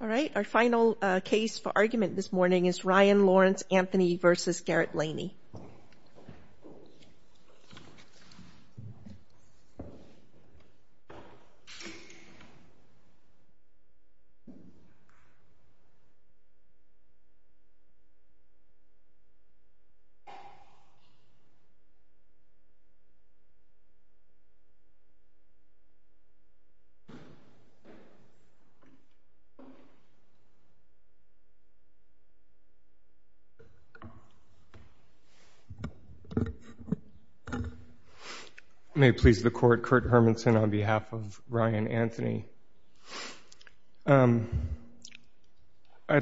All right, our final case for argument this morning is Ryan Lawrence Anthony v. Garrett May it please the court, Kurt Hermanson on behalf of Ryan Anthony. I'd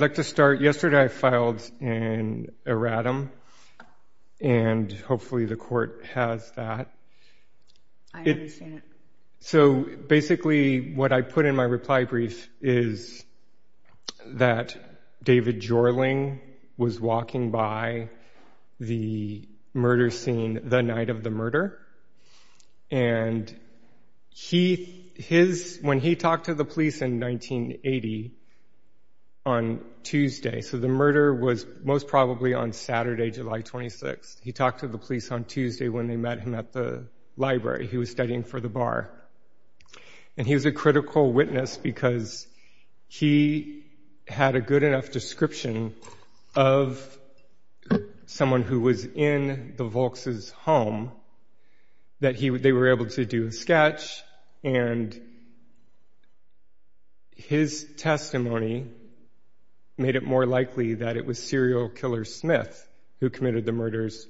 like to start, yesterday I filed an erratum and hopefully the court has that. So basically what I put in my reply brief is that David Jorling was walking by the murder scene the night of the murder and when he talked to the police in 1980 on Tuesday, so the murder was most probably on Saturday, July 26th, he talked to the police on Tuesday when they met him at the library, he was studying for the bar and he was a critical someone who was in the Volks' home that they were able to do a sketch and his testimony made it more likely that it was serial killer Smith who committed the murders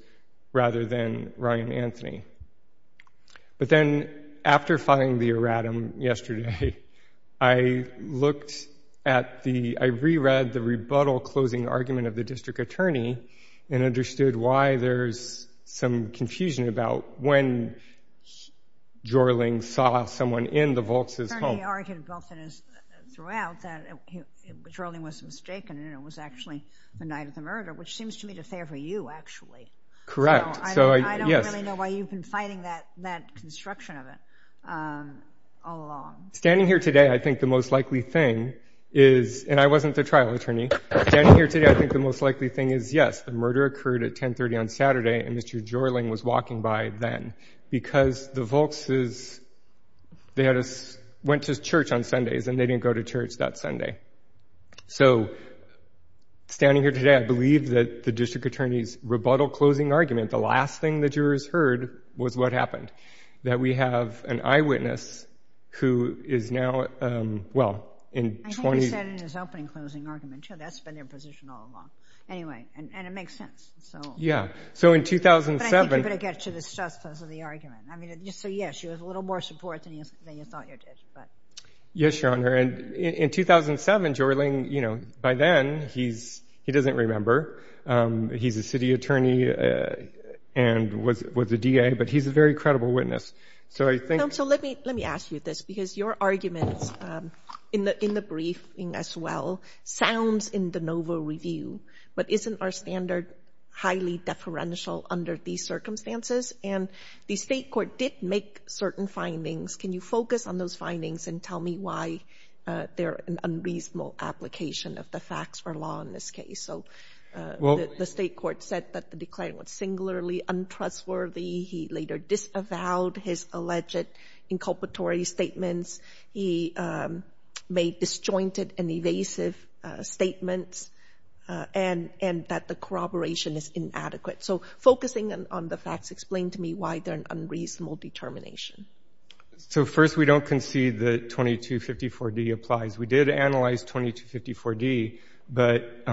rather than Ryan Anthony. But then after filing the erratum yesterday, I re-read the rebuttal closing argument of the district attorney and understood why there's some confusion about when Jorling saw someone in the Volks' home. He argued throughout that Jorling was mistaken and it was actually the night of the murder which seems to me to fare for you actually. Correct, yes. I don't really know why you've been fighting that construction of it all along. Standing here today I think the most likely thing is, and I wasn't the trial attorney, standing here today I think the most likely thing is yes, the murder occurred at 10.30 on Saturday and Mr. Jorling was walking by then because the Volks' they went to church on Sundays and they didn't go to church that Sunday. So standing here today I believe that the district attorney's rebuttal closing argument, the last thing the jurors heard was what happened, that we have an eyewitness who is now, well I think he said in his opening closing argument, that's been their position all along. Anyway, and it makes sense. Yeah, so in 2007. But I think you better get to the stress of the argument. So yes, you have a little more support than you thought you did. Yes, Your Honor, and in 2007 Jorling, by then he doesn't remember, he's a city attorney and was a DA, but he's a very credible witness. Counsel, let me ask you this, because your arguments in the briefing as well, sounds in de novo review, but isn't our standard highly deferential under these circumstances? And the state court did make certain findings. Can you focus on those findings and tell me why they're an unreasonable application of the facts or law in this case? So the state court said that the declarant was singularly untrustworthy, he later disavowed his alleged inculpatory statements, he made disjointed and evasive statements, and that the corroboration is inadequate. So focusing on the facts, explain to me why they're an unreasonable determination. So first we don't concede that 2254D applies. We did analyze 2254D, but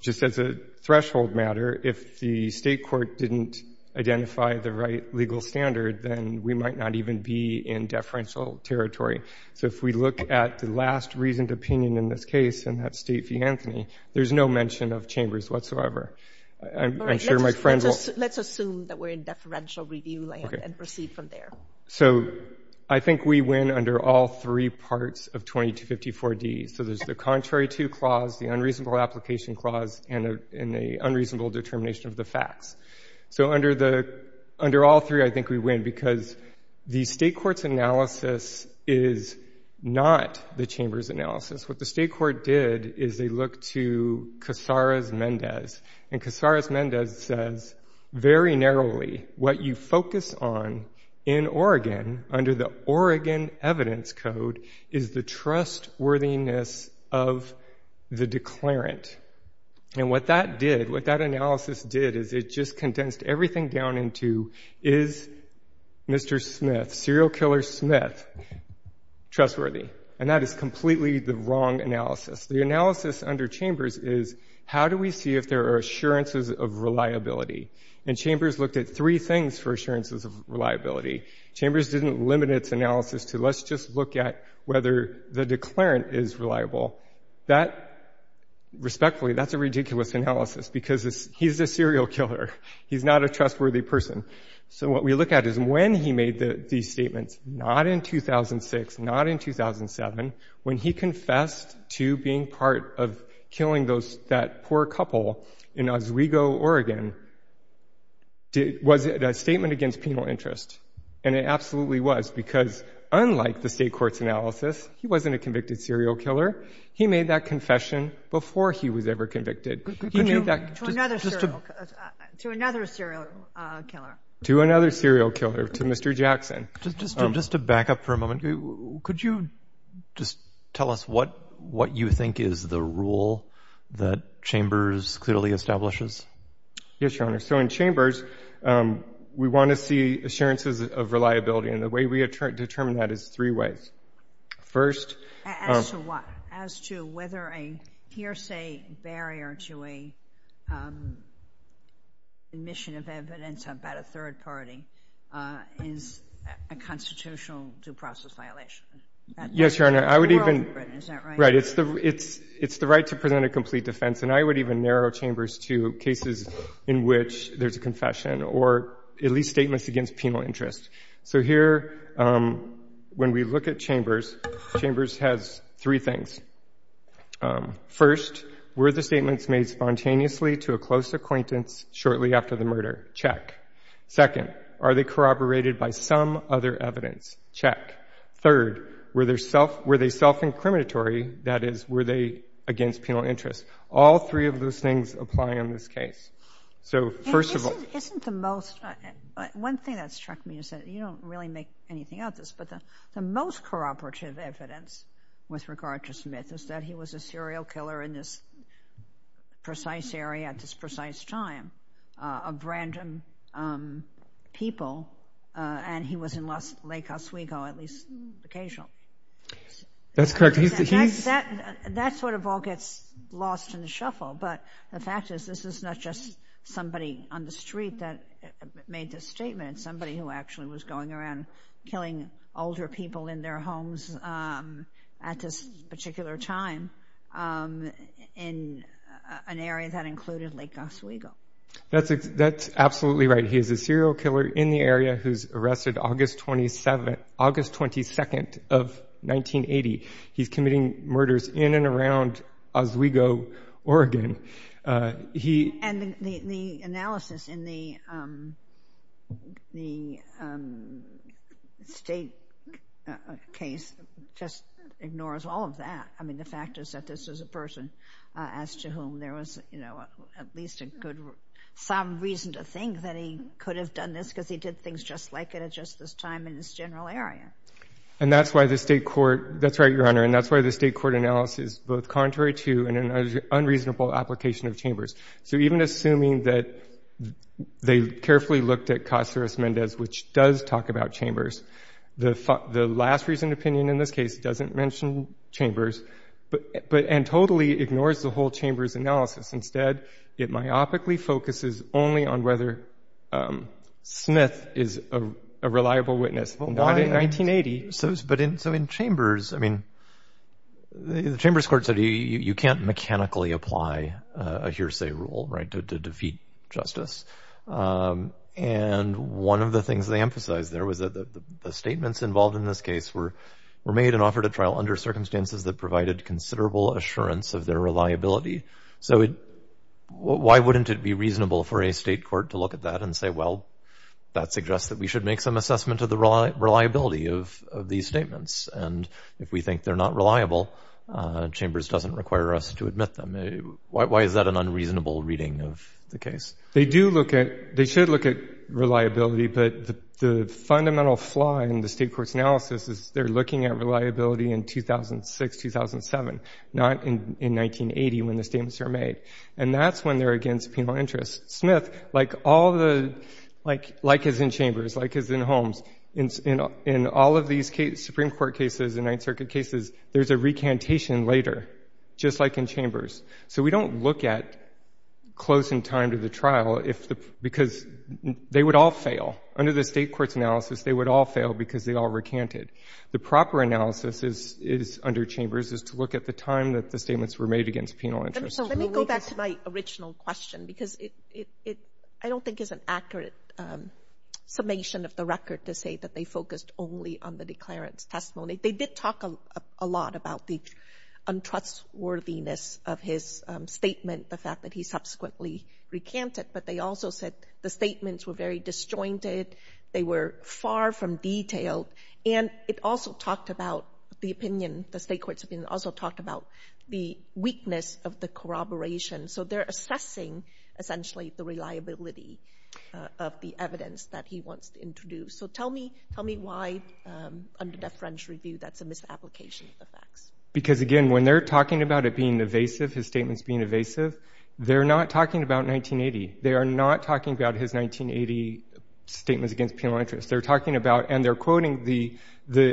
just as a threshold matter, if the state court didn't identify the right legal standard, then we might not even be in deferential territory. So if we look at the last reasoned opinion in this case, and that's State v. Anthony, there's no mention of chambers whatsoever. Let's assume that we're in deferential review land and proceed from there. So I think we win under all three parts of 2254D. So there's the contrary to clause, the unreasonable application clause, and the unreasonable determination of the facts. So under all three, I think we win, because the state court's analysis is not the chamber's analysis. What the state court did is they looked to Casares-Mendez, and Casares-Mendez says very narrowly, what you focus on in Oregon, under the Oregon Evidence Code, is the trustworthiness of the declarant. And what that did, what that analysis did, is it just condensed everything down into, is Mr. Smith, serial killer Smith, trustworthy? And that is completely the wrong analysis. The analysis under chambers is, how do we see if there are assurances of reliability? And chambers looked at three things for assurances of reliability. Chambers didn't limit its analysis to, let's just look at whether the declarant is reliable. That, respectfully, that's a ridiculous analysis, because he's a serial killer. He's not a trustworthy person. So what we look at is when he made these statements, not in 2006, not in 2007, when he confessed to being part of killing that poor couple in Oswego, Oregon, was it a statement against penal interest? And it absolutely was, because unlike the state court's analysis, he wasn't a convicted serial killer. He made that confession before he was ever convicted. He made that... To another serial killer. To another serial killer, to Mr. Jackson. Just to back up for a moment, could you just tell us what you think is the rule that chambers clearly establishes? Yes, Your Honor. So in chambers, we want to see assurances of reliability, and the way we determine that is three ways. First... As to what? As to whether a hearsay barrier to a mission of evidence about a third party is a constitutional due process violation. Yes, Your Honor, I would even... Is that right? Right. It's the right to present a complete defense, and I would even narrow chambers to cases in which there's a confession or at least statements against penal interest. So here, when we look at chambers, chambers has three things. First, were the statements made spontaneously to a close acquaintance shortly after the murder? Check. Second, are they corroborated by some other evidence? Check. Third, were they self-incriminatory? That is, were they against penal interest? All three of those things apply in this case. So, first of all... Isn't the most... One thing that struck me is that you don't really make anything out of this, but the most corroborative evidence with regard to Smith is that he was a serial killer in this precise area at this precise time of random people, and he was in Lake Oswego at least occasionally. That's correct. He's... That sort of all gets lost in the shuffle, but the fact is, this is not just somebody on the street that made this statement. It's somebody who actually was going around killing older people in their homes at this particular time in an area that included Lake Oswego. That's absolutely right. He is a serial killer in the area who's arrested August 22nd of 1980. He's committing murders in and around Oswego, Oregon. He... And the analysis in the state case just ignores all of that. I mean, the fact is that this is a person as to whom there was, you know, at least some reason to think that he could have done this because he did things just like it at just this time in this general area. And that's why the state court... That's right, Your Honor, and that's why the state court analysis is both contrary to and an unreasonable application of Chambers. So even assuming that they carefully looked at Caceres-Mendez, which does talk about Chambers, the last reasoned opinion in this case doesn't mention Chambers, and totally ignores the whole Chambers analysis. Instead, it myopically focuses only on whether Smith is a reliable witness. In 1980... So in Chambers, I mean, the Chambers court said you can't mechanically apply a hearsay rule, right, to defeat justice. And one of the things they emphasized there was that the statements involved in this case were made and offered at trial under circumstances that provided considerable assurance of their reliability. So why wouldn't it be reasonable for a state court to look at that and say, well, that suggests that we should make some assessment of the reliability of these statements. And if we think they're not reliable, Chambers doesn't require us to admit them. Why is that an unreasonable reading of the case? They do look at... They should look at reliability, but the fundamental flaw in the state court's analysis is they're looking at reliability in 2006, 2007, not in 1980 when the statements are made. And that's when they're against penal interest. Smith, like all the... Like in Holmes, in all of these cases, Supreme Court cases and Ninth Circuit cases, there's a recantation later, just like in Chambers. So we don't look at closing time to the trial, because they would all fail. Under the state court's analysis, they would all fail because they all recanted. The proper analysis is, under Chambers, is to look at the time that the statements were made against penal interest. Let me go back to my original question, because it, I don't think, is an accurate summation of the record to say that they focused only on the declarant's testimony. They did talk a lot about the untrustworthiness of his statement, the fact that he subsequently recanted, but they also said the statements were very disjointed, they were far from detailed, and it also talked about the opinion, the state court's opinion also talked about the weakness of the corroboration. So they're assessing, essentially, the reliability of the evidence that he wants to introduce. So tell me why, under the French review, that's a misapplication of facts. Because, again, when they're talking about it being evasive, his statements being evasive, they're not talking about 1980. They are not talking about his 1980 statements against penal interest. They're talking about, and they're quoting the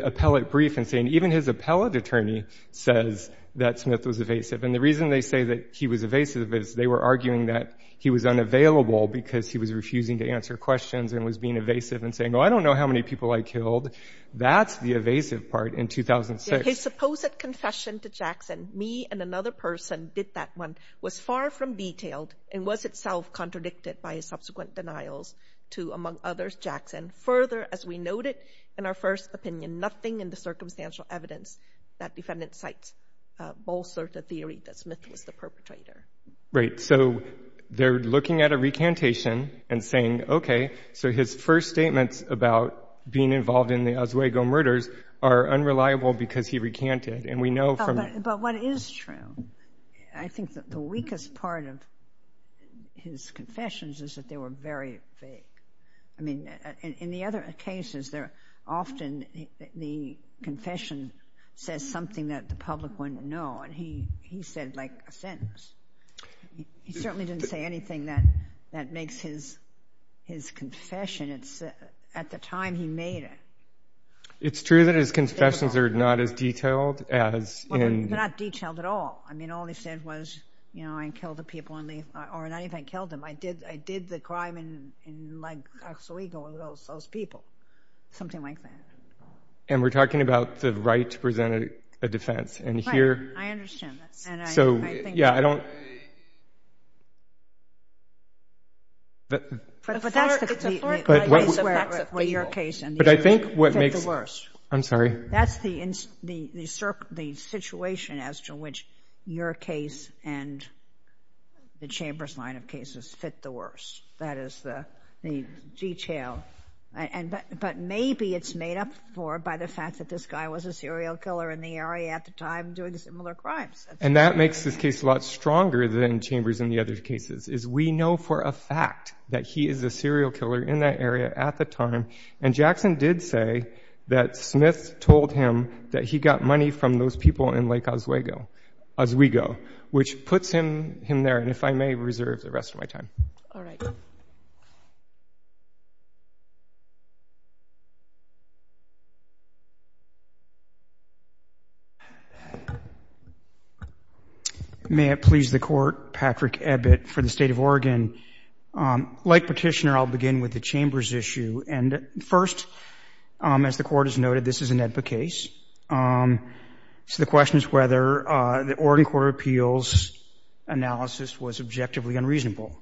appellate brief and saying, even his appellate attorney says that Smith was evasive. And the reason they say that he was evasive is they were arguing that he was unavailable because he was refusing to answer questions and was being evasive and saying, oh, I don't know how many people I killed. That's the evasive part in 2006. His supposed confession to Jackson, me and another person did that one, was far from detailed and was itself contradicted by his subsequent denials to, among others, Jackson. Further, as we noted in our first opinion, nothing in the circumstantial evidence that defendant cites bolster the theory that Smith was the perpetrator. Right. So they're looking at a recantation and saying, okay, so his first statements about being involved in the Oswego murders are unreliable because he recanted. But what is true, I think that the weakest part of his confessions is that they were very vague. I mean, in the other cases, they're often, the confession says something that the public wouldn't know and he said, like, a sentence. He certainly didn't say anything that makes his confession. It's at the time he made it. It's true that his confessions are not as detailed as in... Well, they're not detailed at all. I mean, all he said was, you know, I killed the people, or not even killed them, I did the crime in Oswego with those people. Something like that. And we're talking about the right to present a defense, and here... Right, I understand that. So, yeah, I don't... But that's the case where your case and the other's fit the worst. I'm sorry? That's the situation as to which your case and the Chamber's line of cases fit the worst. That is the detail. But maybe it's made up for by the fact that this guy was a serial killer in the area at the time doing similar crimes. And that makes this case a lot stronger than Chambers and the other cases, is we know for a fact that he is a serial killer in that area at the time, and Jackson did say that Smith told him that he got money from those people in Lake Oswego, reserve the rest of my time. All right. Thank you. May it please the Court, Patrick Ebbitt for the State of Oregon. Like Petitioner, I'll begin with the Chamber's issue. And first, as the Court has noted, this is an EBBA case. So the question is whether the Oregon Court of Appeals analysis was objectively unreasonable.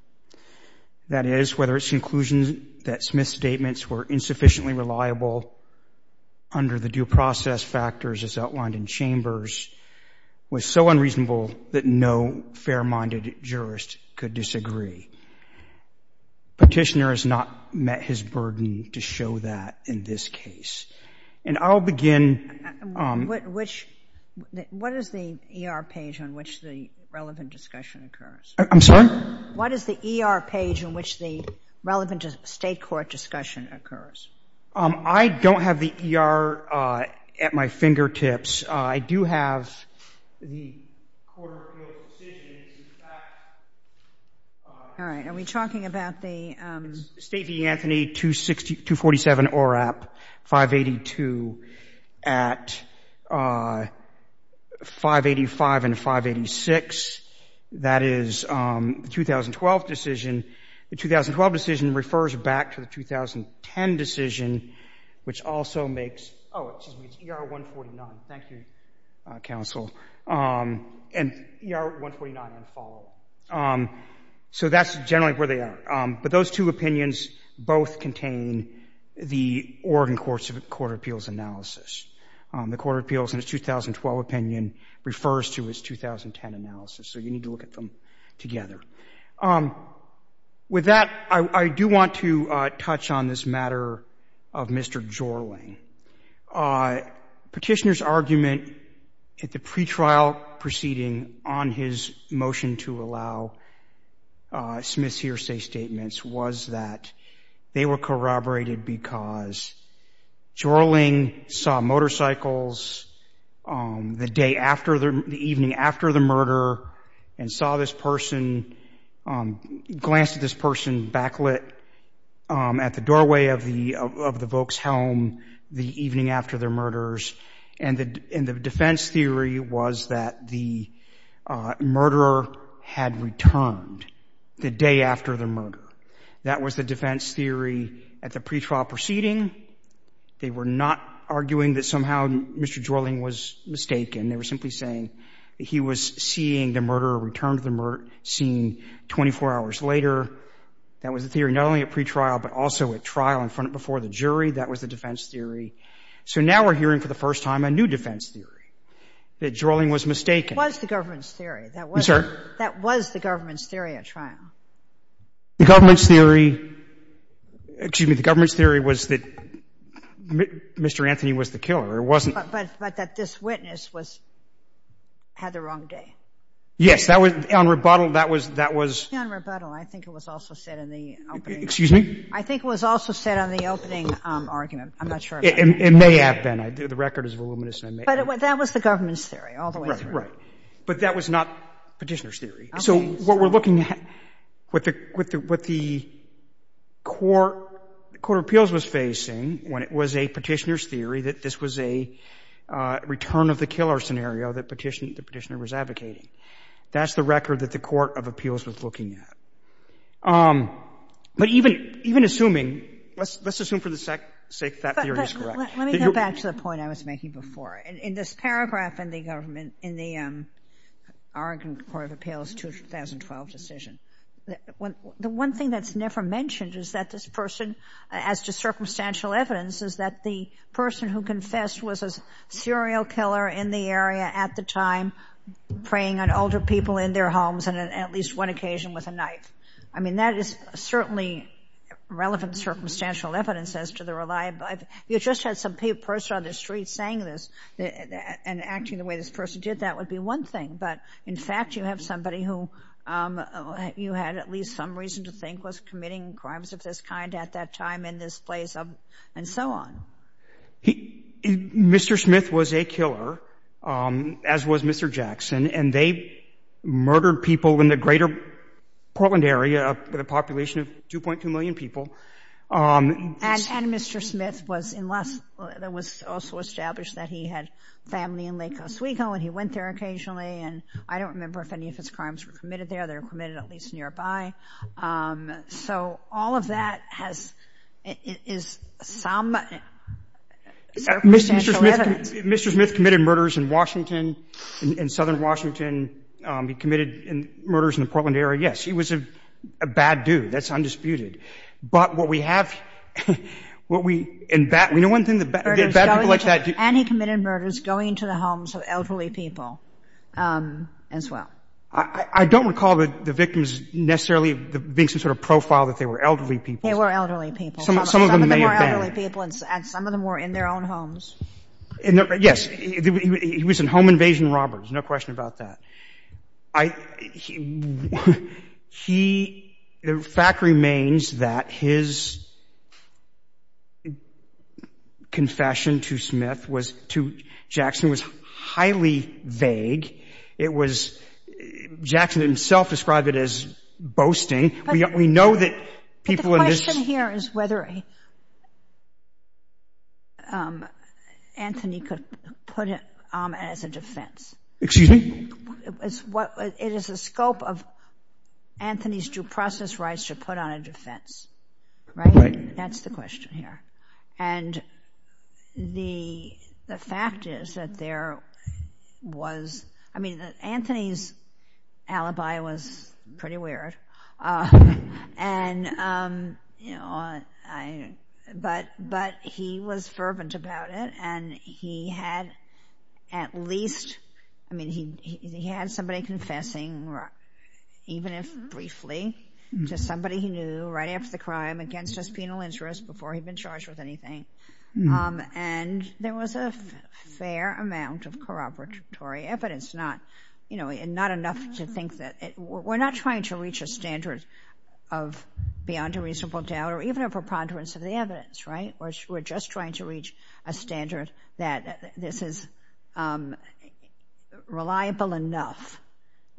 That is, whether its conclusion that Smith's statements were insufficiently reliable under the due process factors as outlined in Chambers was so unreasonable that no fair-minded jurist could disagree. Petitioner has not met his burden to show that in this case. And I'll begin... Which... What is the ER page on which the relevant discussion occurs? I'm sorry? What is the ER page on which the relevant State court discussion occurs? I don't have the ER at my fingertips. I do have the Court of Appeals decision in fact... All right. Are we talking about the... State v. Anthony, 247 ORAP, 582, at 585 and 586. That is the 2012 decision. The 2012 decision refers back to the 2010 decision, which also makes... Oh, excuse me, it's ER 149. Thank you, counsel. And ER 149 and following. So that's generally where they are. But those two opinions both contain the Oregon Court of Appeals analysis. The Court of Appeals in its 2012 opinion refers to its 2010 analysis. So you need to look at them together. With that, I do want to touch on this matter of Mr. Jorling. Petitioner's argument at the pretrial proceeding on his motion to allow Smith's hearsay statements was that they were corroborated because Jorling saw motorcycles the evening after the murder and saw this person, glanced at this person backlit at the doorway of the Volk's home the evening after their murders. And the defense theory was that the murderer had returned the day after their murder. That was the defense theory at the pretrial proceeding. They were not arguing that somehow Mr. Jorling was mistaken. They were simply saying that he was seeing the murderer return to the scene 24 hours later. That was the theory not only at pretrial but also at trial and before the jury. That was the defense theory. So now we're hearing for the first time a new defense theory that Jorling was mistaken. That was the government's theory. That was the government's theory at trial. The government's theory was that Mr. Anthony was the killer. But that this witness had the wrong day. Yes. On rebuttal that was... I think it was also said on the opening argument. I'm not sure. It may have been. The record is voluminous. But that was the government's theory all the way through. But that was not Petitioner's theory. So what we're looking at, what the Court of Appeals was facing when it was a Petitioner's theory that this was a return of the killer scenario that the Petitioner was advocating, that's the record that the Court of Appeals was looking at. But even assuming... Let's assume for the sake that theory is correct. Let me go back to the point I was making before. In this paragraph in the government, in the Oregon Court of Appeals 2012 decision, the one thing that's never mentioned as to circumstantial evidence is that the person who confessed was a serial killer in the area at the time preying on older people in their homes and at least one occasion with a knife. That is certainly relevant circumstantial evidence as to the reliability... You just had some person on the street saying this and acting the way this person did. That would be one thing. But in fact, you have somebody who you had at least some reason to think was committing crimes of this kind at that time in this place and so on. Mr. Smith was a killer, as was Mr. Jackson, and they murdered people in the greater Portland area with a population of 2.2 million people. And Mr. Smith was... It was also established that he had family in Lake Oswego and he went there occasionally, and I don't remember if any of his crimes were committed there. They were committed at least nearby. So all of that is some circumstantial evidence. Mr. Smith committed murders in Washington, in southern Washington. He committed murders in the Portland area. Yes, he was a bad dude. That's undisputed. But what we have... We know one thing, bad people like that... And he committed murders going to the homes of elderly people as well. I don't recall the victims necessarily being some sort of profile that they were elderly people. They were elderly people. Some of them were elderly people and some of them were in their own homes. Yes, he was a home invasion robber. There's no question about that. He... The fact remains that his... ...confession to Smith, to Jackson, was highly vague. It was... Jackson himself described it as boasting. We know that people in this... But the question here is whether Anthony could put it as a defense. It is the scope of Anthony's due process rights to put on a defense. Right? That's the question here. And the fact is that there was... Anthony's alibi was pretty weird. But he was fervent about it and he had at least... He had somebody confessing even if briefly to somebody he knew right after the crime against his penal interest before he'd been charged with anything. And there was a fair amount of corroboratory evidence. Not enough to think that... We're not trying to reach a standard of beyond a reasonable doubt or even a preponderance of the evidence. Right? We're just trying to reach a standard that this is reliable enough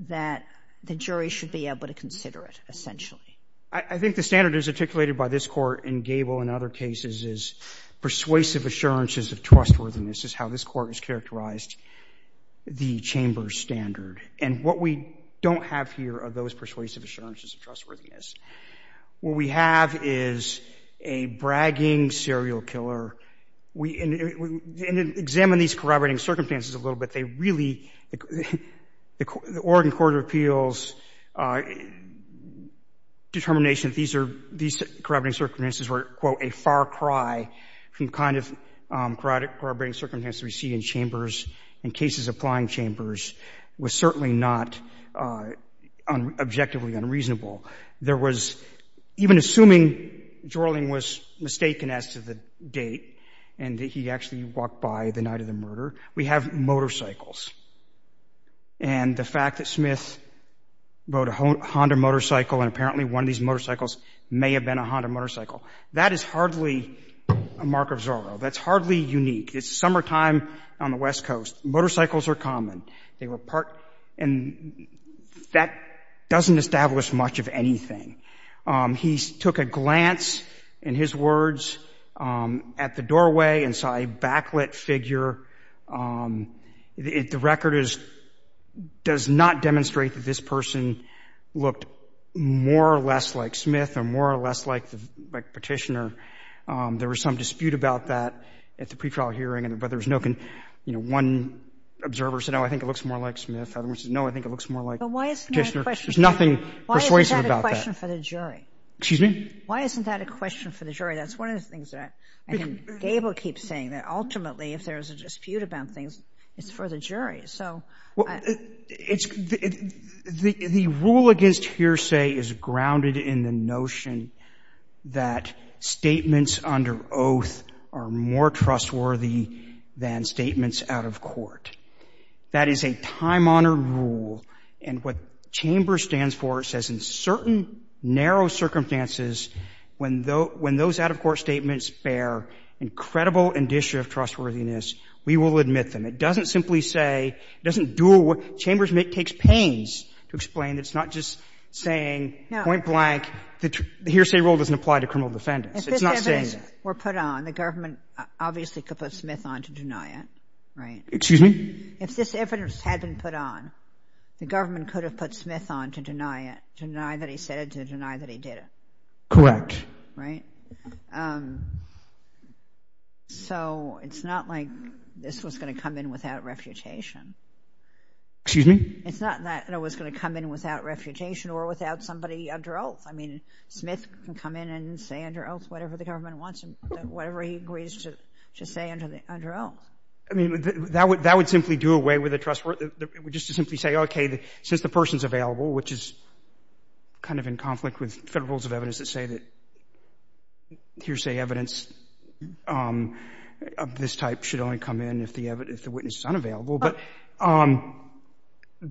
that the jury should be able to consider it, essentially. I think the standard that is articulated by this Court and Gable in other cases is persuasive assurances of trustworthiness is how this Court has characterized the Chamber's standard. And what we don't have here are those persuasive assurances of trustworthiness. What we have is a bragging serial killer. And examine these corroborating circumstances a little bit. They really... The Oregon Court of Appeals determination that these corroborating circumstances were, quote, a far cry from the kind of corroborating circumstances we see in Chambers and cases applying Chambers was certainly not objectively unreasonable. There was... Even assuming Jorling was mistaken as to the date and that he actually walked by the night of the murder, we have motorcycles. And the fact that Smith rode a Honda motorcycle and apparently one of these motorcycles may have been a Honda motorcycle, that is hardly a mark of Zorro. That's hardly unique. It's summertime on the West Coast. Motorcycles are common. They were part... And that doesn't establish much of anything. He took a glance, in his words, at the doorway and saw a backlit figure. The record is... Does not demonstrate that this person looked more or less like Smith or more or less like Petitioner. There was some dispute about that at the pretrial hearing. But there was no... One observer said, no, I think it looks more like Smith. Other one said, no, I think it looks more like Petitioner. There's nothing persuasive about that. Why isn't that a question for the jury? That's one of the things that Gabel keeps saying, that ultimately, if there's a dispute about things, it's for the jury. So... The rule against hearsay is grounded in the notion that statements under oath are more trustworthy than statements out of court. That is a time-honored rule. And what Chambers stands for says, in certain narrow circumstances, when those out-of-court statements bear incredible indicia of trustworthiness, we will admit them. It doesn't simply say, it doesn't do... Chambers takes pains to explain. It's not just saying, point blank, the hearsay rule doesn't apply to criminal defendants. If this evidence were put on, the government obviously could put Smith on to deny it, right? If this evidence had been put on, the government could have put Smith on to deny it, to deny that he said it, to deny that he did it. Correct. So, it's not like this was going to come in without refutation. Excuse me? It's not that it was going to come in without refutation or without somebody under oath. I mean, Smith can come in and say under oath whatever the government wants him to, whatever he agrees to say under oath. I mean, that would simply do away with the trustworthiness. It would just simply say, okay, since the person's available, which is kind of in conflict with federal rules of evidence that say that hearsay evidence of this type should only come in if the witness is unavailable. But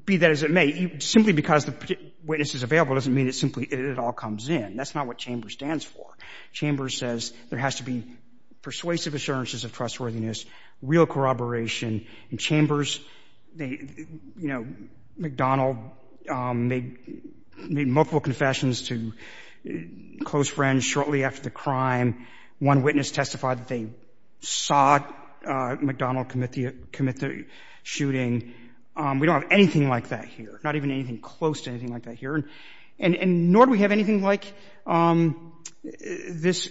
be that as it may, simply because the witness is available doesn't mean it simply all comes in. That's not what Chambers stands for. Chambers says there has to be persuasive assurances of trustworthiness, real corroboration. In Chambers, you know, McDonald made multiple confessions to close friends shortly after the crime. One witness testified that they saw McDonald commit the shooting. We don't have anything like that here. Not even anything close to anything like that here. And nor do we have anything like this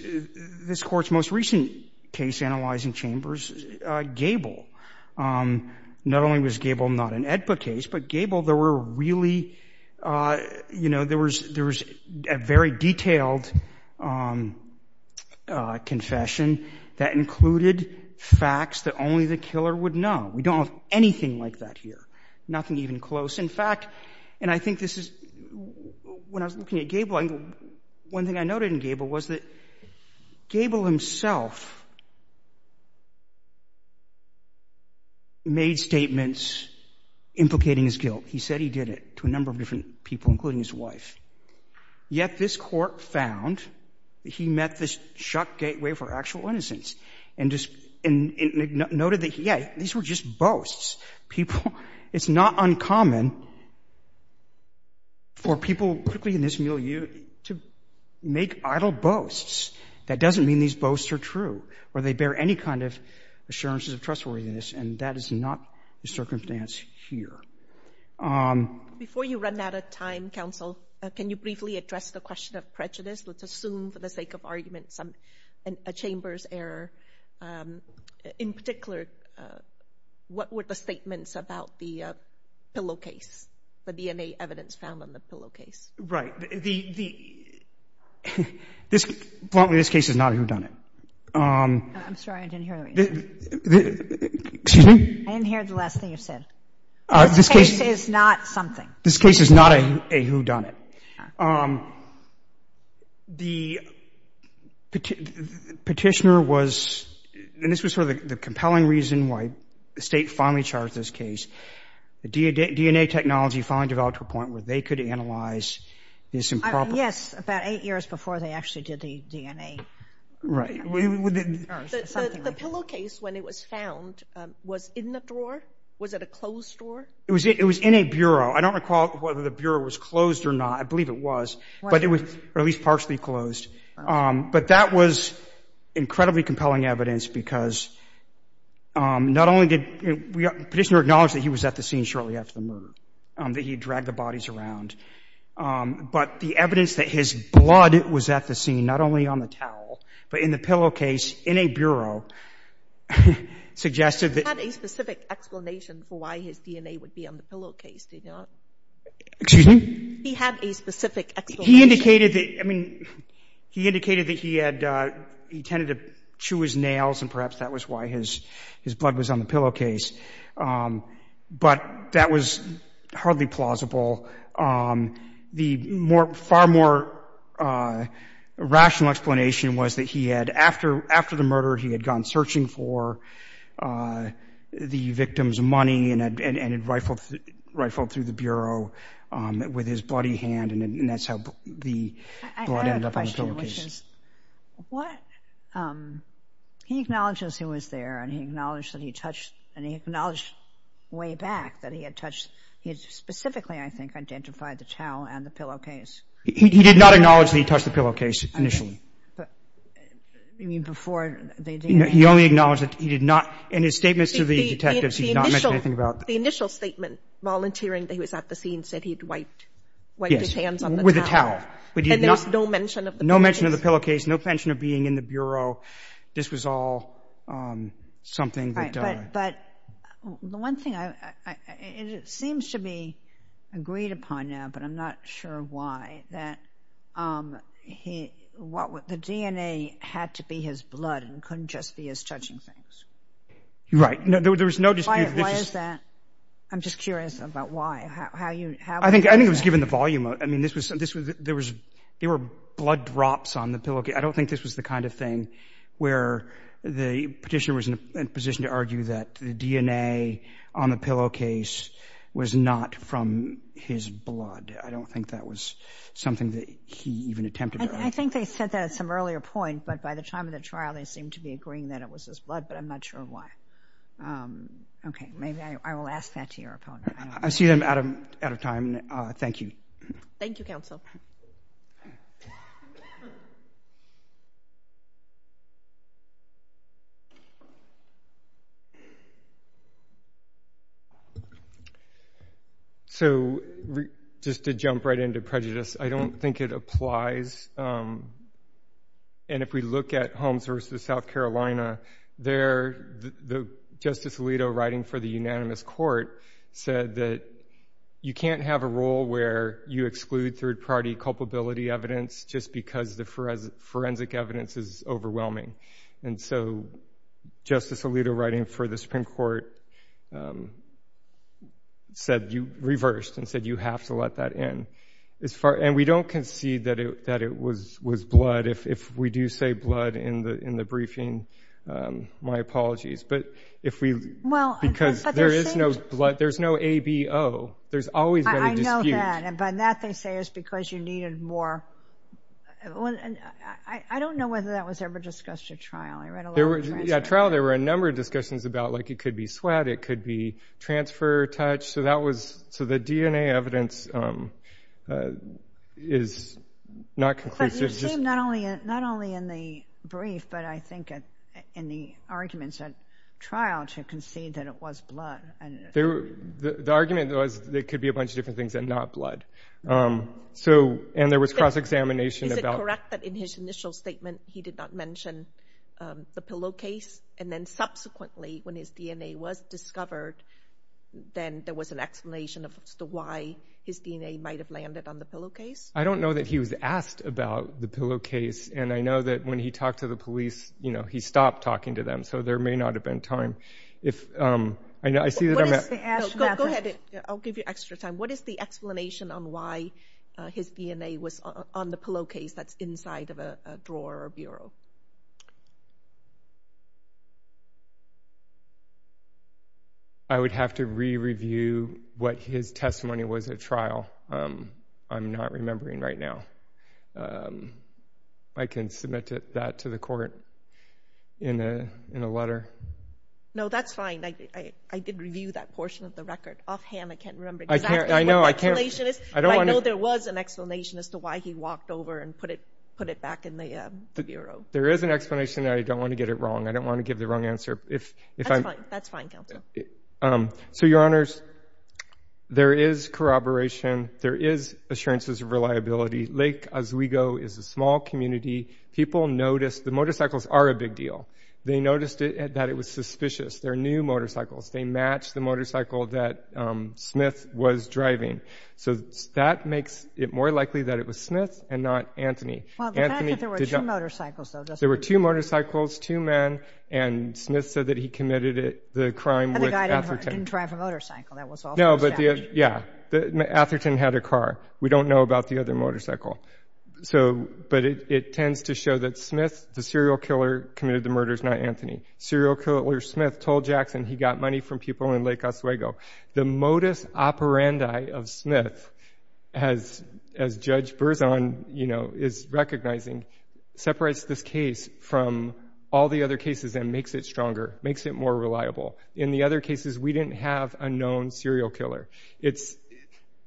Court's most recent case analyzing Chambers, Gable. Not only was Gable not an AEDPA case, but Gable, there were really, you know, there was a very detailed confession that included facts that only the killer would know. We don't have anything like that here. Nothing even close. In fact, and I think this is when I was looking at Gable, one thing I noted in Gable was that Gable himself made statements implicating his guilt. He said he did it to a number of different people, including his wife. Yet this Court found that he met this shock gateway for actual innocence and noted that, yeah, these were just boasts. It's not uncommon for people particularly in this milieu to make idle boasts. That doesn't mean these boasts are true or they bear any kind of assurances of trustworthiness, and that is not the circumstance here. Before you run out of time, Counsel, can you briefly address the question of prejudice? Let's assume for the sake of argument a Chamber's error. In particular, what were the statements about the pillow case, the DNA evidence found on the pillow case? Right. Bluntly, this case is not a whodunit. I'm sorry, I didn't hear the last thing you said. This case is not something. This case is not a whodunit. The petitioner was, and this was sort of the compelling reason why the State finally charged this case, the DNA technology finally developed to a point where they could analyze this improperly. Yes, about eight years before they actually did the DNA. Right. The pillow case, when it was found, was in the drawer? Was it a closed drawer? It was in a bureau. I don't recall whether the bureau was closed or not. I believe it was, but it was at least partially closed. But that was incredibly compelling evidence because not only did the petitioner acknowledge that he was at the scene shortly after the murder, that he had dragged the bodies around, but the evidence that his blood was at the scene, not only on the towel, but in the pillow case, in a bureau, suggested that... He had a specific explanation for why his DNA would be on the pillow case, did he not? Excuse me? He had a specific explanation. He indicated that he had, he tended to chew his nails and perhaps that was why his blood was on the pillow case. But that was hardly plausible. The far more rational explanation was that he had, after the murder, he had gone searching for the victim's money and had rifled through the bureau with his bloody hand and that's how the blood ended up on the pillow case. I have a question, which is what... He acknowledges he was there and he acknowledged that he touched, and he acknowledged way back that he had touched, he had specifically, I think, identified the towel and the pillow case. He did not acknowledge that he touched the pillow case initially. You mean before they... He only acknowledged that he did not, in his statements to the detectives, he did not mention anything about... The initial statement, volunteering that he was at the scene, said he'd wiped his hands on the towel. And there was no mention of the pillow case? No mention of the pillow case, no mention of being in the bureau. This was all something that... But the one thing, it seems to be agreed upon now, but I'm not sure why, that the DNA had to be his blood and couldn't just be his touching things. Right. There was no dispute... Why is that? I'm just curious about why. I think it was given the volume. There were blood drops on the pillow case. I don't think this was the kind of thing where the petitioner was in a position to argue that the DNA on the pillow case was not from his blood. I don't think that was something that he even attempted. I think they said that at some earlier point, but by the time of the trial, they seemed to be agreeing that it was his blood, but I'm not sure why. Okay. Maybe I will ask that to your opponent. I see I'm out of time. Thank you. Thank you, counsel. So, just to jump right into prejudice, I don't think it applies. And if we look at Holmes v. South Carolina, there, Justice Alito, writing for the unanimous court, said that you can't have a rule where you exclude third-party culpability evidence just because the forensic evidence is overwhelming. And so Justice Alito, writing for the Supreme Court, reversed and said you have to let that in. And we don't concede that it was blood. If we do say blood in the briefing, my apologies. Because there is no ABO. There's always been a dispute. I know that, and by that they say it's because you needed more... I don't know whether that was ever discussed at trial. At trial, there were a number of discussions about, like, it could be sweat, it could be transfer touch. So the DNA evidence is not conclusive. Not only in the brief, but I think in the arguments at trial to concede that it was blood. The argument was it could be a bunch of different things and not blood. And there was cross-examination about... Is it correct that in his initial statement he did not mention the pillow case, and then subsequently when his DNA was discovered, then there was an explanation as to why his DNA might have landed on the pillow case? I don't know that he was asked about the pillow case, and I know that when he talked to the police, he stopped talking to them. So there may not have been time. Go ahead. I'll give you extra time. What is the explanation on why his DNA was on the pillow case that's inside of a drawer or a bureau? I would have to re-review what his testimony was at trial. I'm not remembering right now. I can submit that to the court in a letter. No, that's fine. I did review that portion of the record offhand. I can't remember exactly what the explanation is, but I know there was an explanation as to why he walked over and put it back in the bureau. There is an explanation, and I don't want to get it wrong. I don't want to give the wrong answer. That's fine, counsel. So, Your Honors, there is corroboration. There is assurances of reliability. Lake Oswego is a small community. The motorcycles are a big deal. They noticed that it was suspicious. They're new motorcycles. They match the motorcycle that Smith was driving. So that makes it more likely that it was Smith and not Anthony. There were two motorcycles, two men, and Smith said that he committed the crime with Atherton. Atherton had a car. We don't know about the other motorcycle. But it tends to show that Smith, the serial killer, committed the murders, not Anthony. Serial killer Smith told Jackson he got money from people in Lake Oswego. The modus operandi of Smith, as Judge Berzon is very familiar with, separates this case from all the other cases and makes it stronger, makes it more reliable. In the other cases, we didn't have a known serial killer.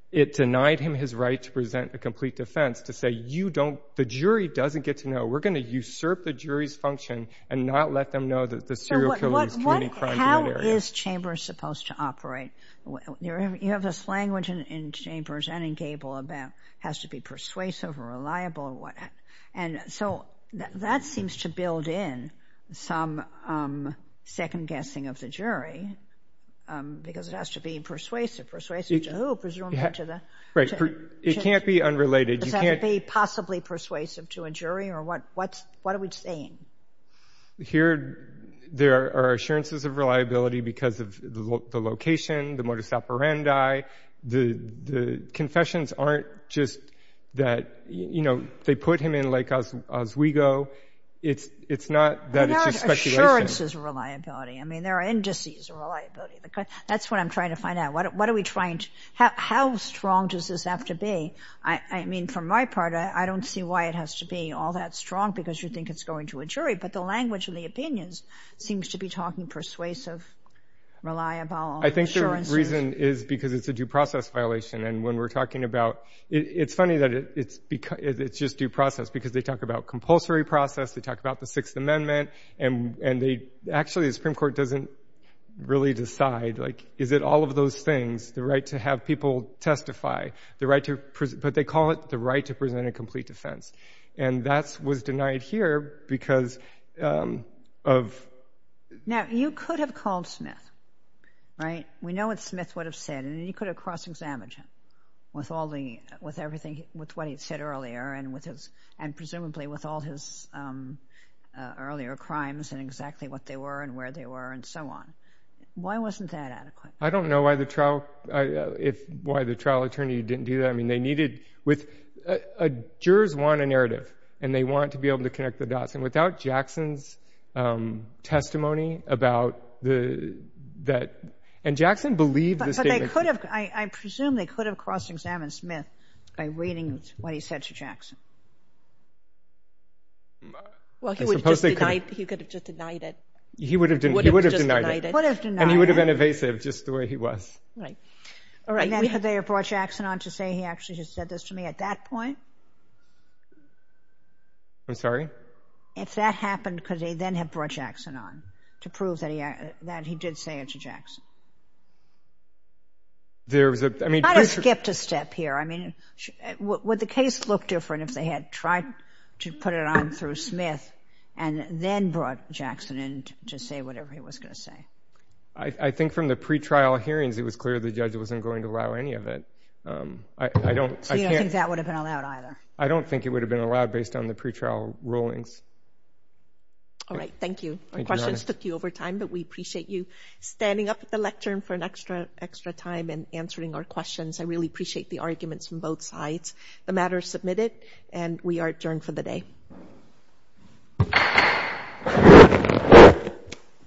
It denied him his right to present a complete defense to say the jury doesn't get to know. We're going to usurp the jury's function and not let them know that the serial killer is committing crimes in that area. How is Chambers supposed to operate? You have this language in Chambers and in Gable about it has to be persuasive or reliable. That seems to build in some second-guessing of the jury because it has to be persuasive. Persuasive to who, presumably? It can't be unrelated. Is that to be possibly persuasive to a jury? What are we saying? There are assurances of reliability because of the location, the modus operandi. The confessions aren't just that they put him in like Oswego. It's not that it's just speculation. There are assurances of reliability. There are indices of reliability. That's what I'm trying to find out. How strong does this have to be? From my part, I don't see why it has to be all that strong because you think it's going to a jury, but the language in the opinions seems to be talking persuasive, reliable assurances. I think the reason is because it's a due process violation. It's funny that it's just due process because they talk about compulsory process. They talk about the Sixth Amendment. Actually, the Supreme Court doesn't really decide. Is it all of those things, the right to have people testify? But they call it the right to present a complete defense. That was denied here because of... Now, you could have called Smith. We know what Smith would have said. You could have cross-examined him with what he said earlier and presumably with all his earlier crimes and exactly what they were and where they were and so on. Why wasn't that adequate? I don't know why the trial attorney didn't do that. Jurors want a narrative and they want to be able to connect the dots and without Jackson's testimony about that... And Jackson believed the statement. But I presume they could have cross-examined Smith by reading what he said to Jackson. He could have just denied it. He would have denied it. And he would have been evasive just the way he was. And then could they have brought Jackson on to say he actually just said this to me at that point? I'm sorry? If that happened, could they then have brought Jackson on to prove that he did say it to Jackson? They could have skipped a step here. Would the case look different if they had tried to put it on through Smith and then brought Jackson in to say whatever he was going to say? I think from the pretrial hearings it was clear the judge wasn't going to allow any of it. So you don't think that would have been allowed either? I don't think it would have been allowed based on the pretrial rulings. All right. Thank you. Our questions took you over time, but we appreciate you standing up at the lectern for an extra time and answering our questions. I really appreciate the arguments from both sides. The matter is submitted and we are adjourned for the day.